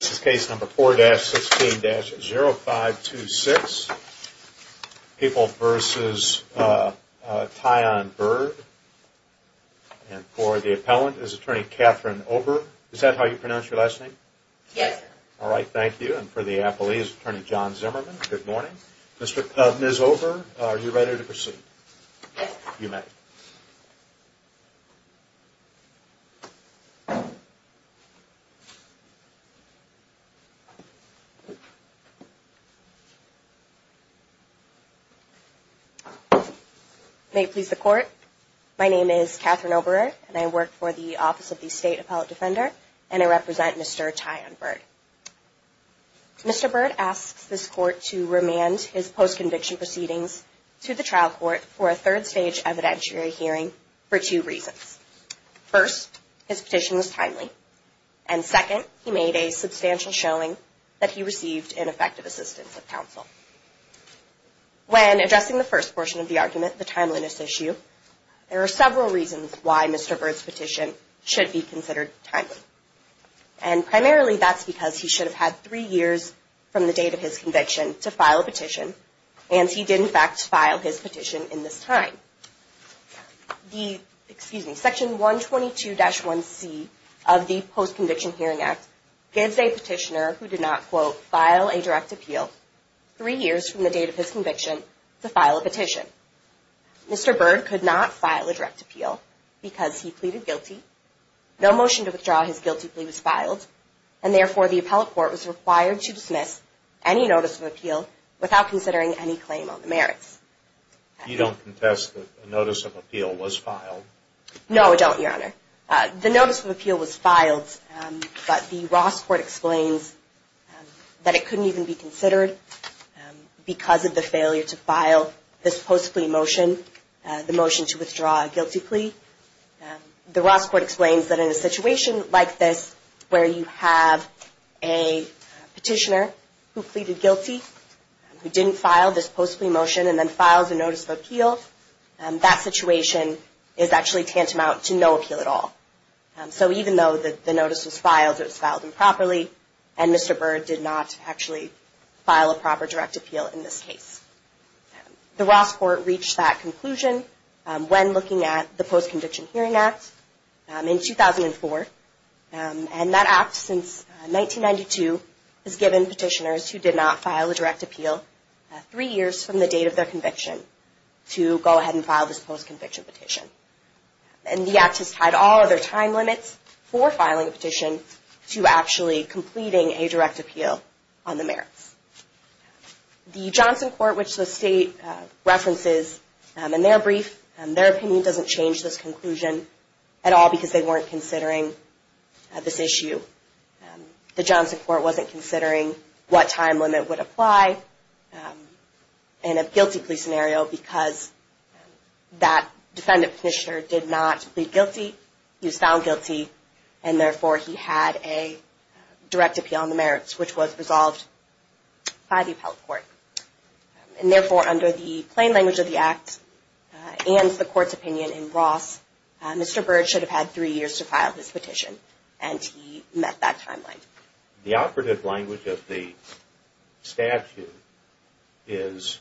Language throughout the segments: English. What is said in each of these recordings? This is case number 4-16-0526, People v. Tyon Byrd. And for the appellant is Attorney Catherine Ober. Is that how you pronounce your last name? Yes, sir. All right, thank you. And for the appellee is Attorney John Zimmerman. Good morning. Ms. Ober, are you ready to proceed? Yes, sir. You may. May it please the Court, my name is Catherine Ober, and I work for the Office of the State Appellate Defender, and I represent Mr. Tyon Byrd. Mr. Byrd asks this Court to remand his post-conviction proceedings to the trial court for a third-stage evidentiary hearing for two reasons. First, his petition was timely. And second, he made a substantial showing that he received ineffective assistance of counsel. When addressing the first portion of the argument, the timeliness issue, there are several reasons why Mr. Byrd's petition should be considered timely. And primarily, that's because he should have had three years from the date of his conviction to file a petition, and he did, in fact, file his petition in this time. Section 122-1c of the Post-Conviction Hearing Act gives a petitioner who did not, quote, file a direct appeal three years from the date of his conviction to file a petition. Mr. Byrd could not file a direct appeal because he pleaded guilty, no motion to withdraw his guilty plea was filed, and therefore the appellate court was required to dismiss any notice of appeal without considering any claim on the merits. You don't contest that the notice of appeal was filed? The notice of appeal was filed, but the Ross Court explains that it couldn't even be considered because of the failure to file this post-plea motion, the motion to withdraw a guilty plea. The Ross Court explains that in a situation like this, where you have a petitioner who pleaded guilty, who didn't file this post-plea motion, and then files a notice of appeal, that situation is actually tantamount to no appeal at all. So even though the notice was filed, it was filed improperly, and Mr. Byrd did not actually file a proper direct appeal in this case. The Ross Court reached that conclusion when looking at the Post-Conviction Hearing Act in 2004, and that act since 1992 has given petitioners who did not file a direct appeal three years from the date of their conviction to go ahead and file this post-conviction petition. And the act has tied all of their time limits for filing a petition to actually completing a direct appeal on the merits. The Johnson Court, which the State references in their brief, their opinion doesn't change this conclusion at all because they weren't considering this issue. The Johnson Court wasn't considering what time limit would apply in a guilty plea scenario because that defendant petitioner did not plead guilty, he was found guilty, and therefore he had a direct appeal on the merits, which was resolved by the Appellate Court. And therefore, under the plain language of the act and the Court's opinion in Ross, Mr. Byrd should have had three years to file this petition, and he met that time limit. The operative language of the statute is,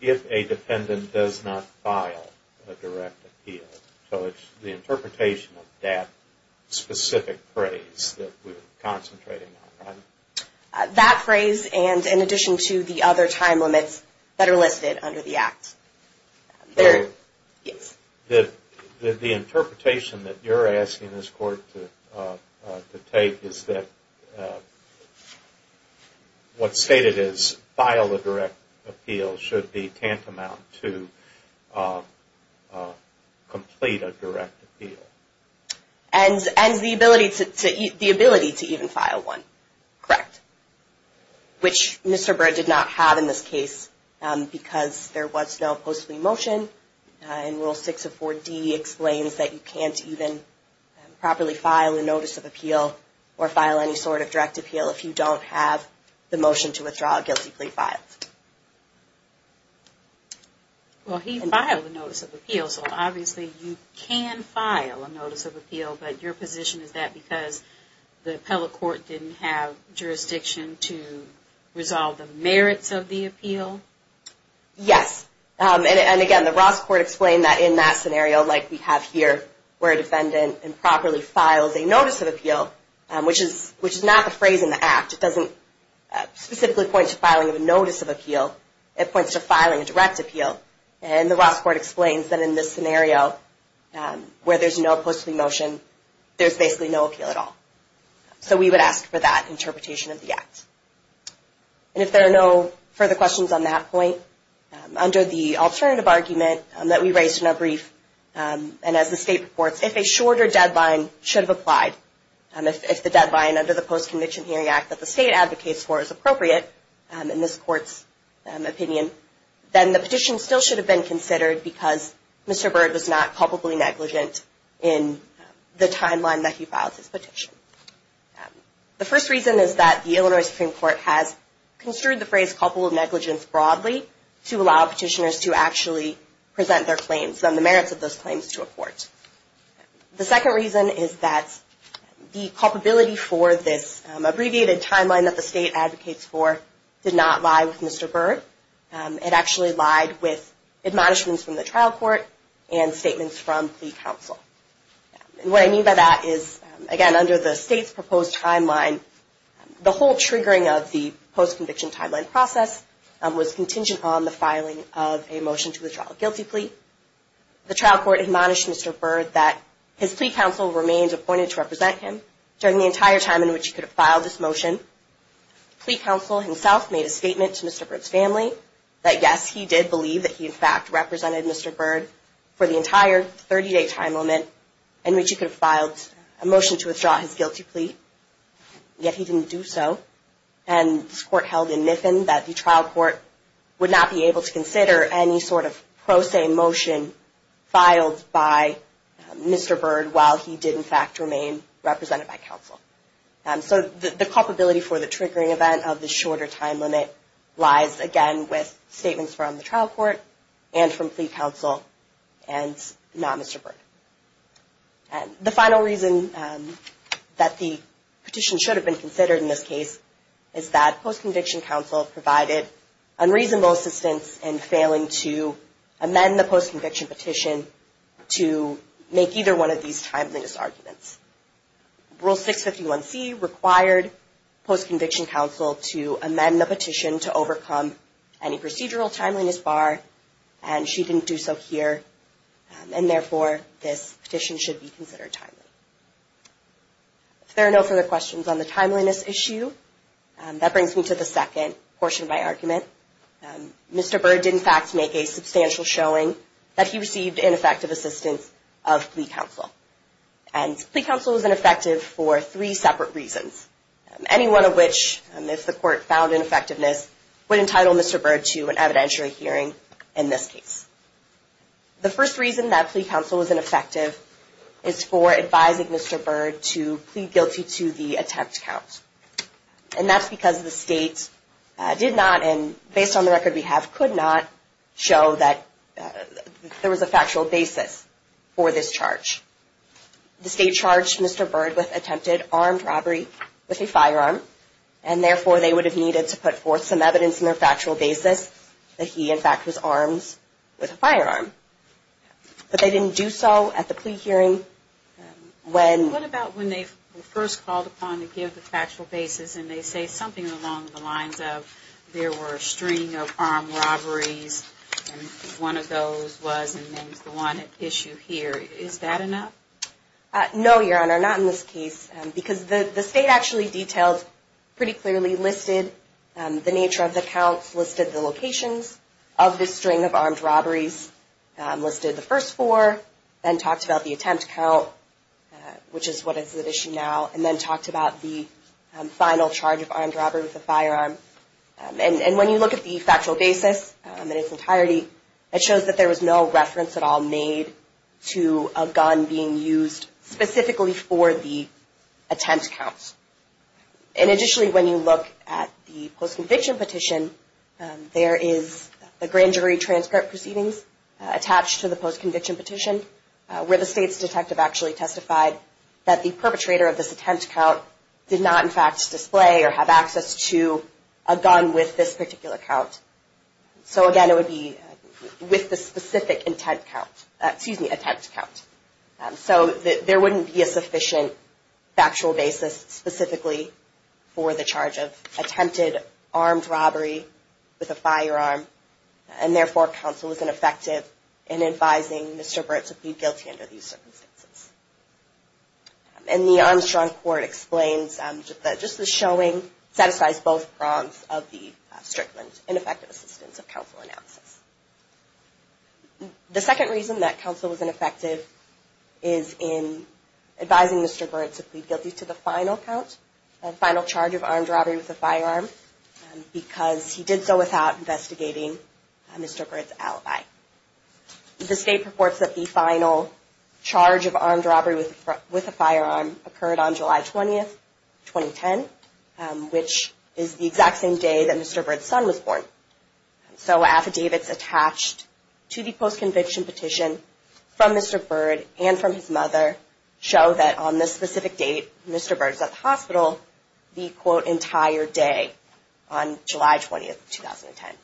if a defendant does not file a direct appeal. So it's the interpretation of that specific phrase that we're concentrating on, right? That phrase and in addition to the other time limits that are listed under the act. The interpretation that you're asking this Court to take is that what's stated is, file a direct appeal should be tantamount to complete a direct appeal. And the ability to even file one, correct? Which Mr. Byrd did not have in this case because there was no post-plea motion. And Rule 6 of 4D explains that you can't even properly file a notice of appeal or file any sort of direct appeal if you don't have the motion to withdraw a guilty plea filed. Well, he filed a notice of appeal, so obviously you can file a notice of appeal. But your position is that because the Appellate Court didn't have jurisdiction to resolve the merits of the appeal? Yes. And again, the Ross Court explained that in that scenario like we have here, where a defendant improperly files a notice of appeal, which is not the phrase in the act. It doesn't specifically point to filing of a notice of appeal. It points to filing a direct appeal. And the Ross Court explains that in this scenario where there's no post-plea motion, there's basically no appeal at all. So we would ask for that interpretation of the act. And if there are no further questions on that point, under the alternative argument that we raised in our brief, and as the State reports, if a shorter deadline should have applied, if the deadline under the Post-Conviction Hearing Act that the State advocates for is appropriate, in this Court's opinion, then the petition still should have been considered because Mr. Byrd was not culpably negligent in the timeline that he filed his petition. The first reason is that the Illinois Supreme Court has construed the phrase culpable negligence broadly to allow petitioners to actually present their claims and the merits of those claims to a court. The second reason is that the culpability for this abbreviated timeline that the State advocates for did not lie with Mr. Byrd. It actually lied with admonishments from the trial court and statements from plea counsel. And what I mean by that is, again, under the State's proposed timeline, the whole triggering of the post-conviction timeline process was contingent on the filing of a motion to withdraw a guilty plea. The trial court admonished Mr. Byrd that his plea counsel remained appointed to represent him during the entire time in which he could have filed this motion. Plea counsel himself made a statement to Mr. Byrd's family that, yes, he did believe that he in fact represented Mr. Byrd for the entire 30-day time limit in which he could have filed a motion to withdraw his guilty plea, yet he didn't do so. And this court held in Miffin that the trial court would not be able to consider any sort of pro se motion filed by Mr. Byrd while he did in fact remain represented by counsel. So the culpability for the triggering event of the shorter time limit lies, again, with statements from the trial court and from plea counsel and not Mr. Byrd. The final reason that the petition should have been considered in this case is that post-conviction counsel provided unreasonable assistance in failing to amend the post-conviction petition to make either one of these timeliness arguments. Rule 651C required post-conviction counsel to amend the petition to overcome any procedural timeliness bar, and she didn't do so here, and therefore this petition should be considered timely. If there are no further questions on the timeliness issue, that brings me to the second portion of my argument. Mr. Byrd did in fact make a substantial showing that he received ineffective assistance of plea counsel. And plea counsel was ineffective for three separate reasons, any one of which, if the court found ineffectiveness, would entitle Mr. Byrd to an evidentiary hearing in this case. The first reason that plea counsel was ineffective is for advising Mr. Byrd to plead guilty to the attempt count. And that's because the state did not, and based on the record we have, could not show that there was a factual basis for this charge. The state charged Mr. Byrd with attempted armed robbery with a firearm, and therefore they would have needed to put forth some evidence in their factual basis that he in fact was armed with a firearm. But they didn't do so at the plea hearing. What about when they were first called upon to give the factual basis, and they say something along the lines of there were a string of armed robberies, and one of those was and names the one at issue here, is that enough? No, Your Honor, not in this case. Because the state actually detailed pretty clearly, listed the nature of the counts, listed the locations of the string of armed robberies, listed the first four, then talked about the attempt count, which is what is at issue now, and then talked about the final charge of armed robbery with a firearm. And when you look at the factual basis in its entirety, it shows that there was no reference at all made to a gun being used specifically for the attempt counts. And additionally, when you look at the post-conviction petition, there is a grand jury transcript proceedings attached to the post-conviction petition, where the state's detective actually testified that the perpetrator of this attempt count did not in fact display or have access to a gun with this particular count. So again, it would be with the specific intent count, excuse me, attempt count. So there wouldn't be a sufficient factual basis specifically for the charge of attempted armed robbery with a firearm, and therefore counsel is ineffective in advising Mr. Burt to plead guilty under these circumstances. And the Armstrong Court explains that just the showing satisfies both prongs of the strict and ineffective assistance of counsel analysis. The second reason that counsel was ineffective is in advising Mr. Burt to plead guilty to the final count, the final charge of armed robbery with a firearm, because he did so without investigating Mr. Burt's alibi. The state purports that the final charge of armed robbery with a firearm occurred on July 20, 2010, which is the exact same day that Mr. Burt's son was born. So affidavits attached to the post-conviction petition from Mr. Burt and from his mother show that on this specific date, Mr. Burt was at the hospital the, quote, entire day on July 20, 2010.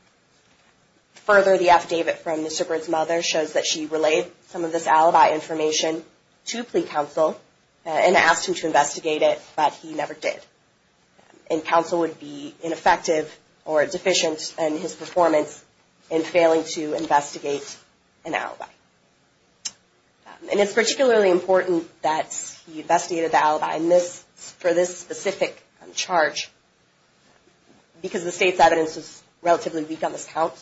Further, the affidavit from Mr. Burt's mother shows that she relayed some of this alibi information to plea counsel and asked him to investigate it, but he never did. And counsel would be ineffective or deficient in his performance in failing to investigate an alibi. And it's particularly important that he investigated the alibi for this specific charge, because the state's evidence is relatively weak on this count.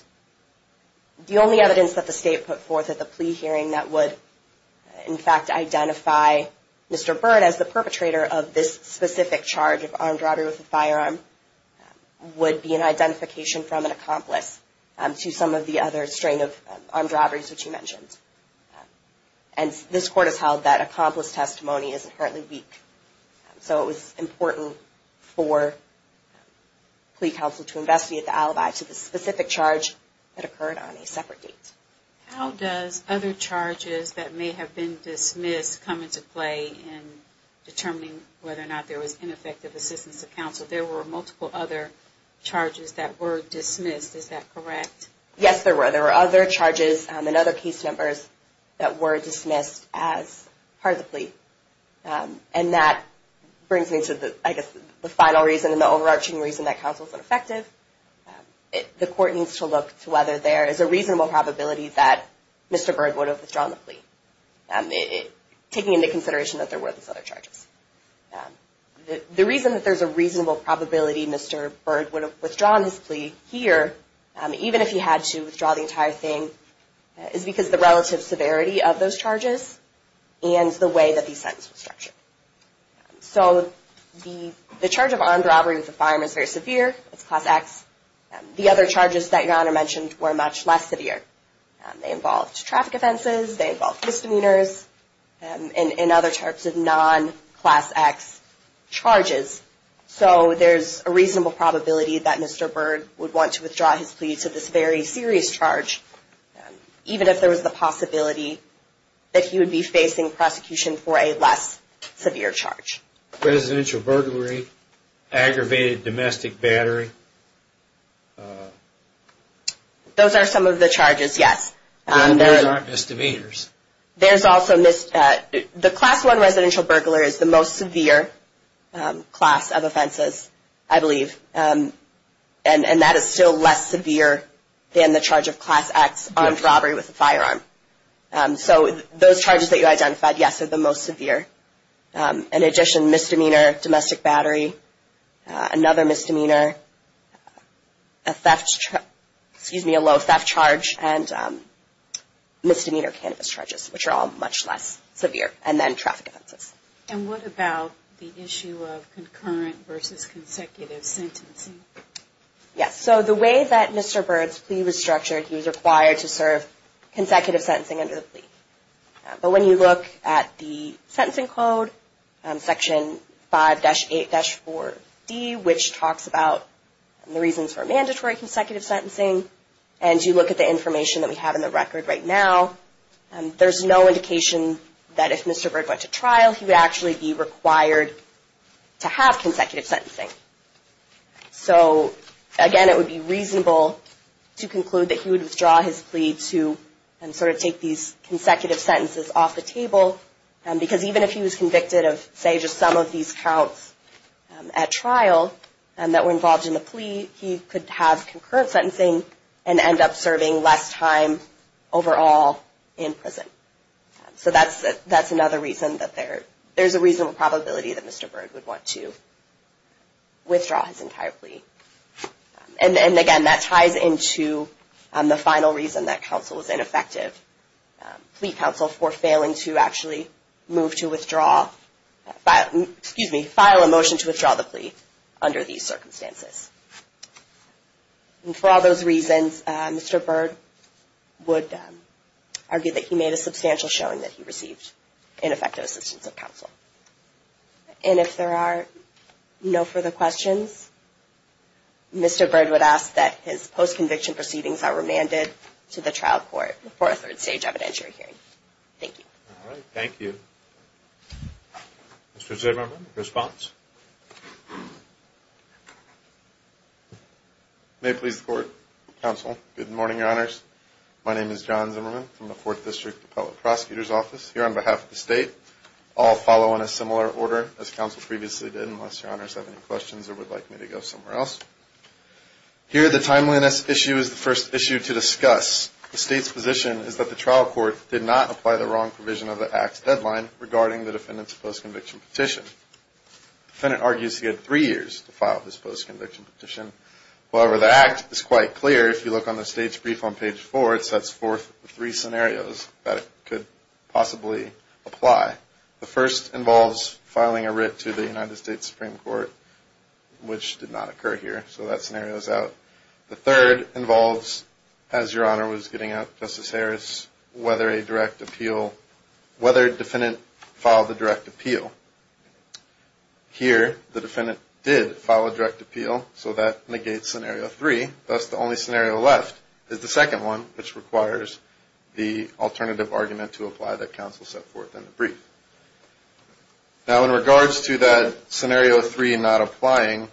The only evidence that the state put forth at the plea hearing that would, in fact, identify Mr. Burt as the perpetrator of this specific charge of armed robbery with a firearm would be an identification from an accomplice to some of the other strain of armed robberies which he mentioned. And this court has held that accomplice testimony is inherently weak. So it was important for plea counsel to investigate the alibi to the specific charge that occurred on a separate date. How does other charges that may have been dismissed come into play in determining whether or not there was ineffective assistance to counsel? There were multiple other charges that were dismissed. Is that correct? Yes, there were. There were other charges and other case numbers that were dismissed as part of the plea. And that brings me to, I guess, the final reason and the overarching reason that counsel is ineffective. The court needs to look to whether there is a reasonable probability that Mr. Burt would have withdrawn the plea, taking into consideration that there were these other charges. The reason that there's a reasonable probability Mr. Burt would have withdrawn his plea here, even if he had to withdraw the entire thing, is because of the relative severity of those charges and the way that the sentence was structured. So the charge of armed robbery with a firearm is very severe. It's Class X. The other charges that Your Honor mentioned were much less severe. They involved traffic offenses, they involved misdemeanors, and other types of non-Class X charges. So there's a reasonable probability that Mr. Burt would want to withdraw his plea to this very serious charge, even if there was the possibility that he would be facing prosecution for a less severe charge. Residential burglary, aggravated domestic battery. Those are some of the charges, yes. There's also misdemeanors. There's also misdemeanors. The Class I residential burglar is the most severe class of offenses, I believe. And that is still less severe than the charge of Class X, armed robbery with a firearm. So those charges that you identified, yes, are the most severe. In addition, misdemeanor, domestic battery, another misdemeanor, a low theft charge, and misdemeanor cannabis charges, which are all much less severe, and then traffic offenses. And what about the issue of concurrent versus consecutive sentencing? Yes. So the way that Mr. Burt's plea was structured, he was required to serve consecutive sentencing under the plea. But when you look at the sentencing code, Section 5-8-4D, which talks about the reasons for mandatory consecutive sentencing, and you look at the information that we have in the record right now, there's no indication that if Mr. Burt went to trial, he would actually be required to have consecutive sentencing. So again, it would be reasonable to conclude that he would withdraw his plea to sort of take these consecutive sentences off the table, because even if he was convicted of, say, just some of these counts at trial that were involved in the plea, he could have concurrent sentencing and end up serving less time overall in prison. So that's another reason that there's a reasonable probability that Mr. Burt would want to withdraw his entire plea. And again, that ties into the final reason that counsel was ineffective. Plea counsel for failing to actually move to withdraw, excuse me, file a motion to withdraw the plea under these circumstances. And for all those reasons, Mr. Burt would argue that he made a substantial showing that he received ineffective assistance of counsel. And if there are no further questions, Mr. Burt would ask that his post-conviction proceedings are remanded to the trial court for a third stage evidentiary hearing. Thank you. All right. Thank you. Mr. Zimmerman, response? May it please the court, counsel, good morning, your honors. My name is John Zimmerman from the Fourth District Appellate Prosecutor's Office here on behalf of the state. I'll follow in a similar order as counsel previously did, unless your honors have any questions or would like me to go somewhere else. Here the timeliness issue is the first issue to discuss. The state's position is that the trial court did not apply the wrong provision of the act's deadline regarding the defendant's post-conviction petition. The defendant argues he had three years to file his post-conviction petition. However, the act is quite clear if you look on the state's brief on page four. It sets forth three scenarios that it could possibly apply. The first involves filing a writ to the United States Supreme Court, which did not occur here, so that scenario is out. The third involves, as your honor was getting out, Justice Harris, whether a defendant filed a direct appeal. Here the defendant did file a direct appeal, so that negates scenario three. Thus the only scenario left is the second one, which requires the alternative argument to apply that counsel set forth in the brief. Now in regards to that scenario three not applying,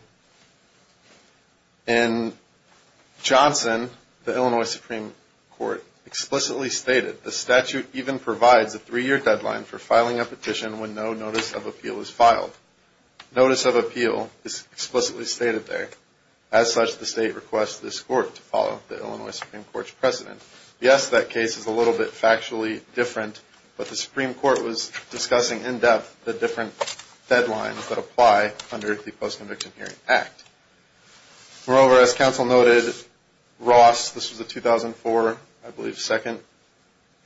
in Johnson, the Illinois Supreme Court explicitly stated, the statute even provides a three-year deadline for filing a petition when no notice of appeal is filed. Notice of appeal is explicitly stated there. As such, the state requests this court to follow the Illinois Supreme Court's precedent. Yes, that case is a little bit factually different, but the Supreme Court was discussing in depth the different deadlines that apply under the Post-Conviction Hearing Act. Moreover, as counsel noted, Ross, this was a 2004, I believe, second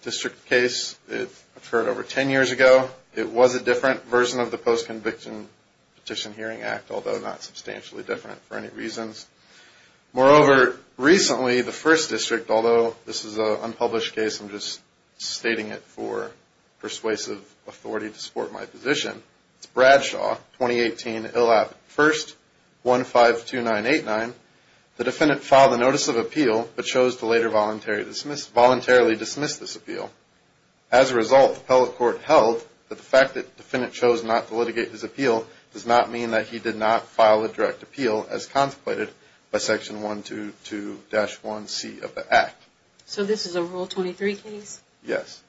district case. It occurred over ten years ago. It was a different version of the Post-Conviction Petition Hearing Act, although not substantially different for any reasons. Moreover, recently the first district, although this is an unpublished case, I'm just stating it for persuasive authority to support my position. It's Bradshaw, 2018, ILLAP 1-152989. The defendant filed a notice of appeal, but chose to later voluntarily dismiss this appeal. As a result, the appellate court held that the fact that the defendant chose not to litigate his appeal does not mean that he did not file a direct appeal as contemplated by Section 122-1C of the Act. So this is a Rule 23 case? Yes.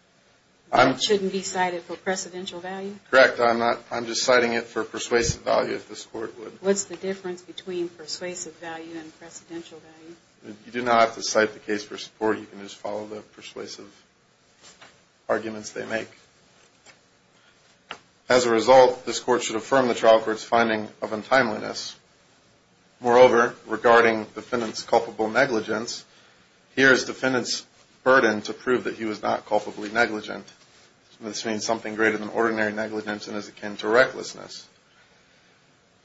That shouldn't be cited for precedential value? Correct. I'm just citing it for persuasive value, if this Court would. What's the difference between persuasive value and precedential value? You do not have to cite the case for support, you can just follow the persuasive arguments they make. As a result, this Court should affirm the trial court's finding of untimeliness. Moreover, regarding defendant's culpable negligence, here is defendant's burden to prove that he was not culpably negligent. This means something greater than ordinary negligence and is akin to recklessness.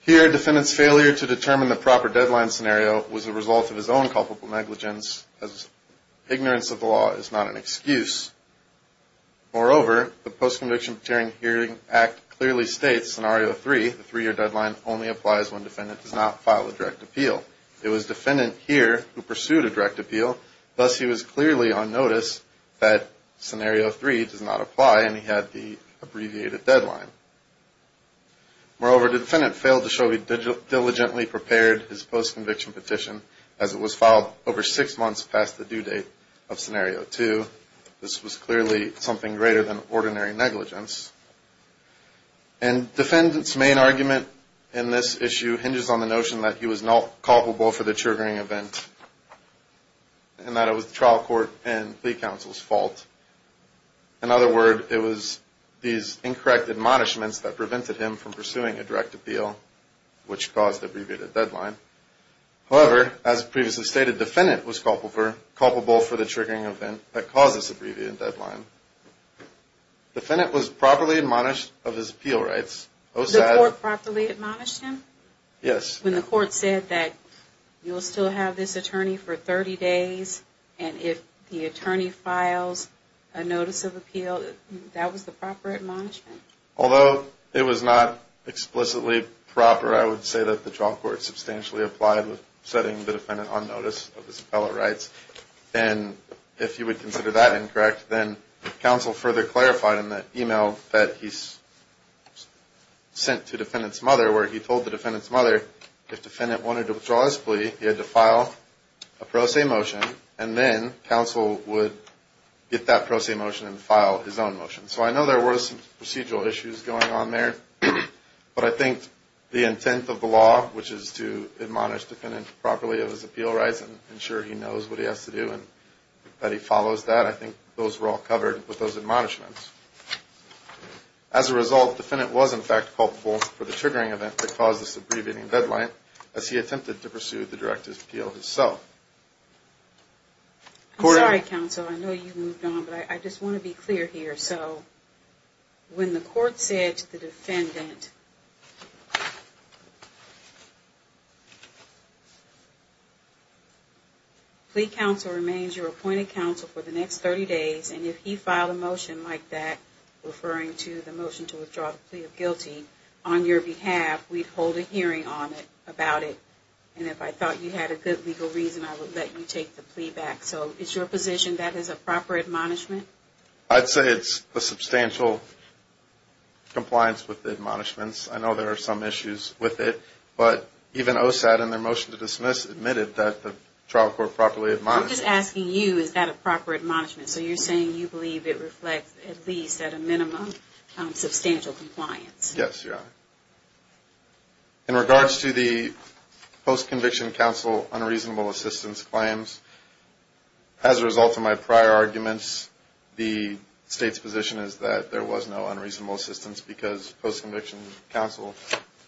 Here, defendant's failure to determine the proper deadline scenario was a result of his own culpable negligence, as ignorance of the law is not an excuse. Moreover, the Post-Conviction Protecting Hearing Act clearly states, Scenario 3, the three-year deadline only applies when defendant does not file a direct appeal. It was defendant here who pursued a direct appeal, thus he was clearly on notice that Scenario 3 does not apply and he had the abbreviated deadline. Moreover, defendant failed to show he diligently prepared his post-conviction petition, as it was filed over six months past the due date of Scenario 2. This was clearly something greater than ordinary negligence. And defendant's main argument in this issue hinges on the notion that he was not culpable for the triggering event and that it was the trial court and plea counsel's fault. In other words, it was these incorrect admonishments that prevented him from pursuing a direct appeal, which caused the abbreviated deadline. However, as previously stated, defendant was culpable for the triggering event that caused this abbreviated deadline. Defendant was properly admonished of his appeal rights. The court properly admonished him? Yes. When the court said that you will still have this attorney for 30 days, and if the attorney files a notice of appeal, that was the proper admonishment? Although it was not explicitly proper, I would say that the trial court substantially applied with setting the defendant on notice of his appellate rights. And if you would consider that incorrect, then counsel further clarified in the email that he sent to defendant's mother, where he told the defendant's mother, if defendant wanted to withdraw his plea, he had to file a pro se motion, and then counsel would get that pro se motion and file his own motion. So I know there were some procedural issues going on there, but I think the intent of the law, which is to admonish defendant properly of his appeal rights and ensure he knows what he has to do and that he follows that, I think those were all covered with those admonishments. As a result, defendant was in fact culpable for the triggering event that caused this abbreviating deadline as he attempted to pursue the direct appeal himself. I'm sorry, counsel, I know you moved on, but I just want to be clear here. So when the court said to the defendant, plea counsel remains your appointed counsel for the next 30 days, and if he filed a motion like that, referring to the motion to withdraw the plea of guilty, on your behalf, we'd hold a hearing on it, about it, and if I thought you had a good legal reason, I would let you take the plea back. So is your position that is a proper admonishment? I'd say it's a substantial compliance with the admonishments. I know there are some issues with it, but even OSAD in their motion to dismiss admitted that the trial court properly admonished it. I'm just asking you, is that a proper admonishment? So you're saying you believe it reflects at least at a minimum substantial compliance? Yes, Your Honor. In regards to the post-conviction counsel unreasonable assistance claims, as a result of my prior arguments, the State's position is that there was no unreasonable assistance because post-conviction counsel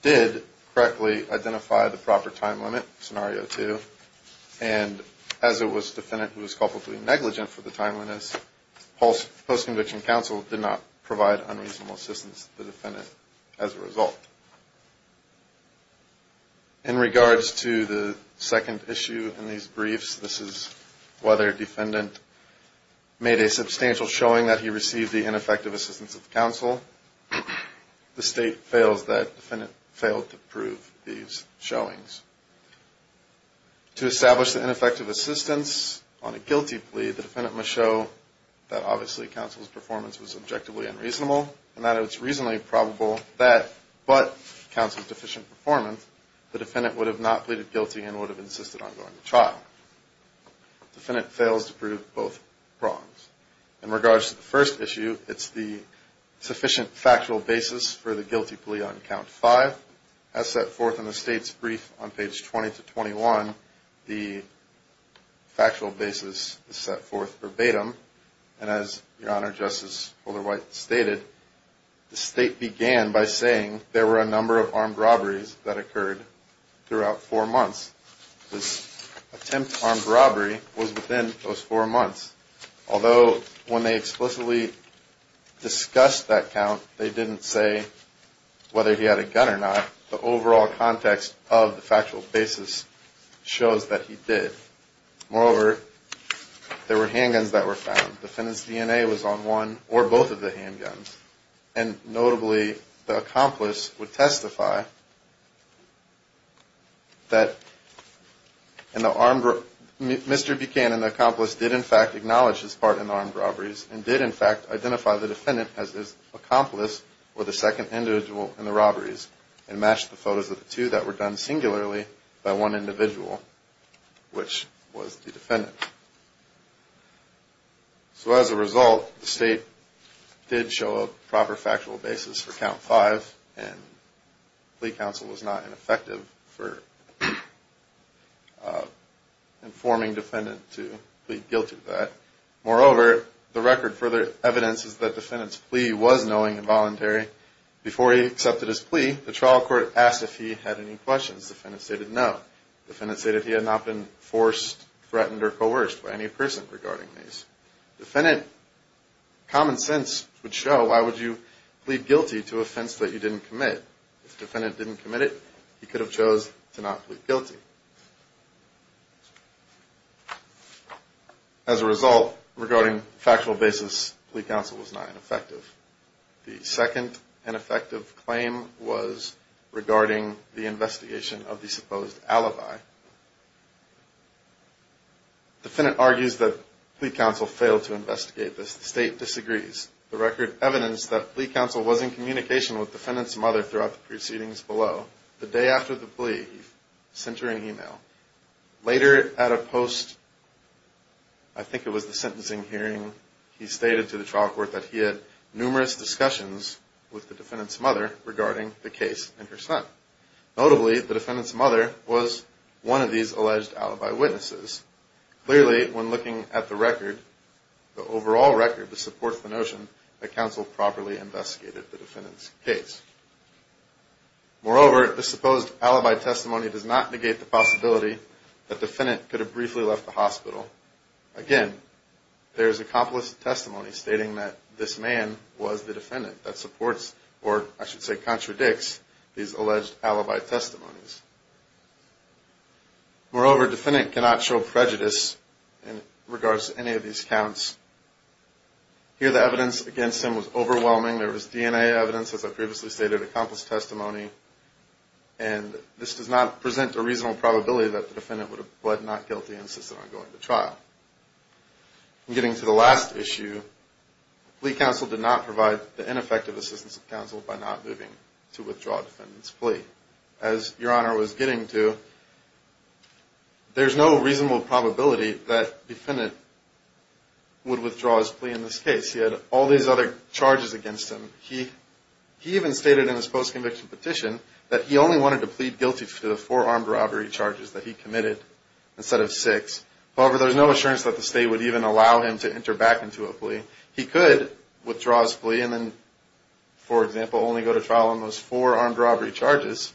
did correctly identify the proper time limit, Scenario 2, and as it was the defendant who was culpably negligent for the timeliness, post-conviction counsel did not provide unreasonable assistance to the defendant as a result. In regards to the second issue in these briefs, this is whether a defendant made a substantial showing that he received the ineffective assistance of the counsel. The State fails that the defendant failed to prove these showings. To establish the ineffective assistance on a guilty plea, the defendant must show that obviously counsel's performance was objectively unreasonable and that it was reasonably probable that, but counsel's deficient performance, the defendant would have not pleaded guilty and would have insisted on going to trial. The defendant fails to prove both wrongs. In regards to the first issue, it's the sufficient factual basis for the guilty plea on Count 5. As set forth in the State's brief on page 20 to 21, the factual basis is set forth verbatim, and as Your Honor, Justice Holderwhite stated, the State began by saying there were a number of armed robberies that occurred throughout four months. This attempt at armed robbery was within those four months, although when they explicitly discussed that count, they didn't say whether he had a gun or not. The overall context of the factual basis shows that he did. Moreover, there were handguns that were found. The defendant's DNA was on one or both of the handguns, and notably the accomplice would testify that Mr. Buchanan, the accomplice, did in fact acknowledge his part in the armed robberies and did in fact identify the defendant as his accomplice or the second individual in the robberies and matched the photos of the two that were done singularly by one individual, which was the defendant. So as a result, the State did show a proper factual basis for Count 5, and plea counsel was not ineffective for informing defendant to plead guilty to that. Moreover, the record for the evidence is that defendant's plea was knowing and voluntary. Before he accepted his plea, the trial court asked if he had any questions. Defendant stated no. Defendant stated he had not been forced, threatened, or coerced by any person regarding these. Defendant, common sense would show why would you plead guilty to offense that you didn't commit. If defendant didn't commit it, he could have chose to not plead guilty. As a result, regarding factual basis, plea counsel was not ineffective. The second ineffective claim was regarding the investigation of the supposed alibi. Defendant argues that plea counsel failed to investigate this. The State disagrees. The record evidenced that plea counsel was in communication with defendant's mother throughout the proceedings below. The day after the plea, he sent her an email. Later at a post, I think it was the sentencing hearing, he stated to the trial court that he had numerous discussions with the defendant's mother regarding the case and her son. Notably, the defendant's mother was one of these alleged alibi witnesses. Clearly, when looking at the record, the overall record, there is no evidence to support the notion that counsel properly investigated the defendant's case. Moreover, the supposed alibi testimony does not negate the possibility that defendant could have briefly left the hospital. Again, there is accomplice testimony stating that this man was the defendant that supports, or I should say contradicts, these alleged alibi testimonies. Moreover, defendant cannot show prejudice in regards to any of these counts. Here, the evidence against him was overwhelming. There was DNA evidence, as I previously stated, accomplice testimony, and this does not present a reasonable probability that the defendant would have, but not guilty, insisted on going to trial. Getting to the last issue, plea counsel did not provide the ineffective assistance of counsel by not moving to withdraw defendant's plea. As Your Honor was getting to, there's no reasonable probability that defendant would withdraw his plea in this case. He had all these other charges against him. He even stated in his post-conviction petition that he only wanted to plead guilty to the four armed robbery charges that he committed instead of six. However, there's no assurance that the state would even allow him to enter back into a plea. He could withdraw his plea and then, for example, only go to trial on those four armed robbery charges,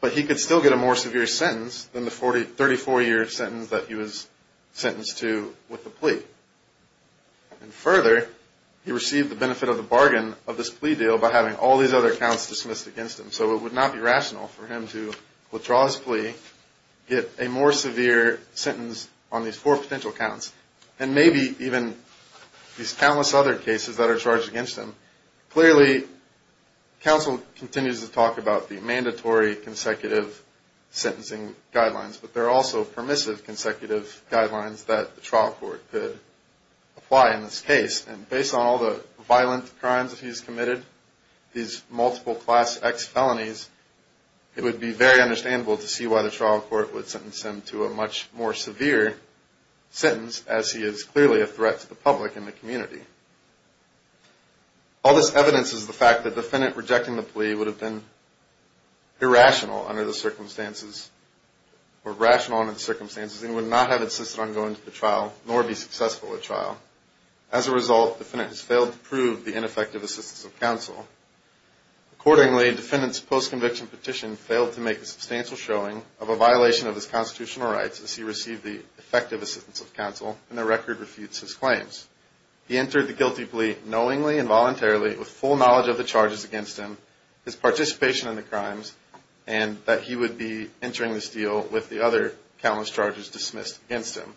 but he could still get a more severe sentence than the 34-year sentence that he was sentenced to with the plea. Further, he received the benefit of the bargain of this plea deal by having all these other counts dismissed against him, so it would not be rational for him to withdraw his plea, get a more severe sentence on these four potential counts, and maybe even these countless other cases that are charged against him. Clearly, counsel continues to talk about the mandatory consecutive sentencing guidelines, but there are also permissive consecutive guidelines that the trial court could apply in this case, and based on all the violent crimes that he's committed, these multiple class X felonies, it would be very understandable to see why the trial court would sentence him to a much more severe sentence as he is clearly a threat to the public and the community. All this evidence is the fact that the defendant rejecting the plea would have been irrational under the circumstances, or rational under the circumstances, and would not have insisted on going to the trial, nor be successful at trial. As a result, the defendant has failed to prove the ineffective assistance of counsel. Accordingly, the defendant's post-conviction petition failed to make a substantial showing of a violation of his constitutional rights as he received the effective assistance of counsel, and the record refutes his claims. He entered the guilty plea knowingly and voluntarily, with full knowledge of the charges against him, his participation in the crimes, and that he would be entering this deal with the other countless charges dismissed against him.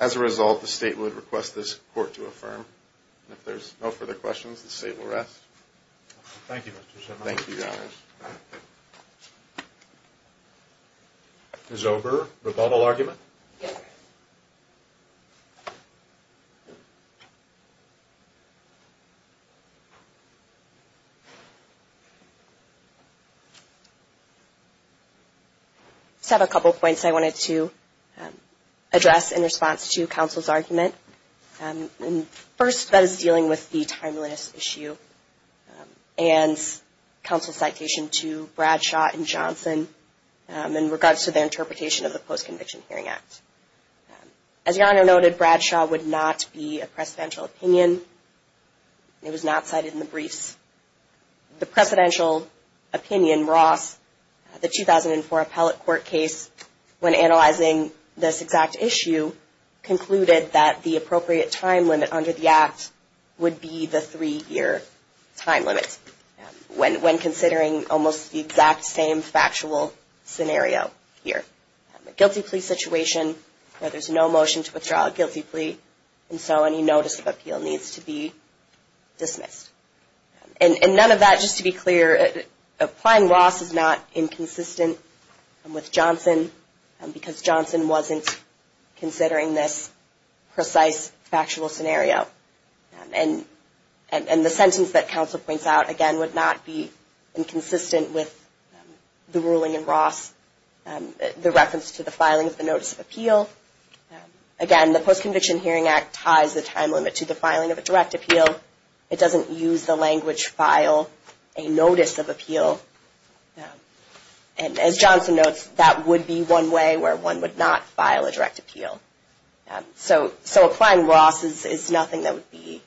As a result, the state would request this court to affirm. If there's no further questions, the state will rest. Thank you, Mr. Chairman. Ms. Ober, rebuttal argument? I just have a couple points I wanted to address in response to counsel's argument. First, that is dealing with the timeless issue, and counsel's citation to Bradshaw and Johnson, in regards to their interpretation of the Post-Conviction Hearing Act. As Your Honor noted, Bradshaw would not be a precedential opinion. It was not cited in the briefs. The precedential opinion, Ross, the 2004 appellate court case, when analyzing this exact issue, concluded that the appropriate time limit under the act would be the three-year time limit, when considering almost the exact same factual scenario here. A guilty plea situation where there's no motion to withdraw a guilty plea, and so any notice of appeal needs to be dismissed. And none of that, just to be clear, applying Ross is not inconsistent with Johnson, because Johnson wasn't considering this precise factual scenario. And the sentence that counsel points out, again, would not be inconsistent with the ruling in Ross, the reference to the filing of the notice of appeal. Again, the Post-Conviction Hearing Act ties the time limit to the filing of a direct appeal. It doesn't use the language, file a notice of appeal. And as Johnson notes, that would be one way where one would not file a direct appeal. So applying Ross is nothing that would be,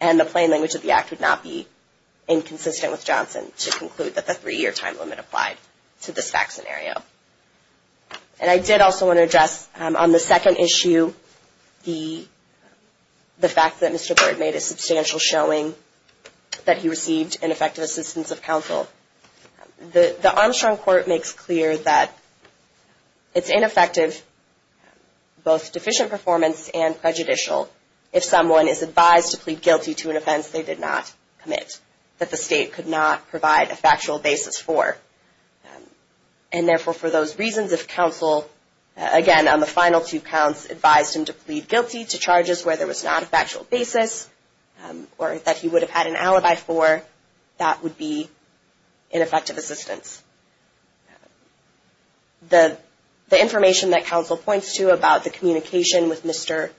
and the plain language of the act would not be inconsistent with Johnson to conclude that the three-year time limit applied to this fact scenario. And I did also want to address, on the second issue, the fact that Mr. Bird made a substantial showing that he received ineffective assistance of counsel. The Armstrong Court makes clear that it's ineffective, both deficient performance and prejudicial, if someone is advised to plead guilty to an offense they did not commit, that the state could not provide a factual basis for. And therefore, for those reasons, if counsel, again, on the final two counts, advised him to plead guilty to charges where there was not a factual basis, or that he would have had an alibi for, that would be ineffective assistance. The information that counsel points to about the communication with Mr.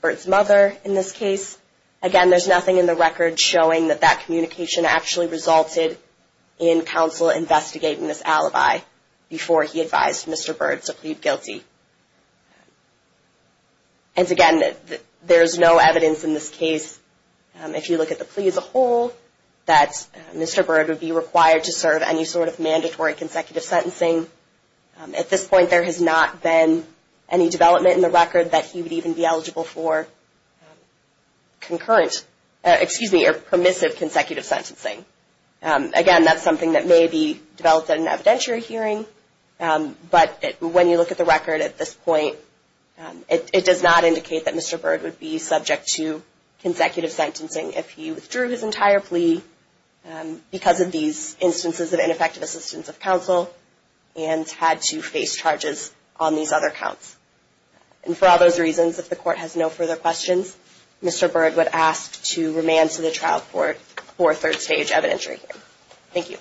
Bird's mother in this case, again, there's nothing in the record showing that that communication actually resulted in counsel investigating this alibi before he advised Mr. Bird to plead guilty. And again, there's no evidence in this case, if you look at the plea as a whole, that Mr. Bird would be required to serve any sort of mandatory consecutive sentencing. At this point, there has not been any development in the record that he would even be eligible for. Concurrent, excuse me, permissive consecutive sentencing. Again, that's something that may be developed at an evidentiary hearing, but when you look at the record at this point, it does not indicate that Mr. Bird would be subject to consecutive sentencing if he withdrew his entire plea because of these instances of ineffective assistance of counsel, and had to face charges on these other counts. And for all those reasons, if the court has no further questions, Mr. Bird would ask to remand to the trial court for a third stage evidentiary hearing. Thank you.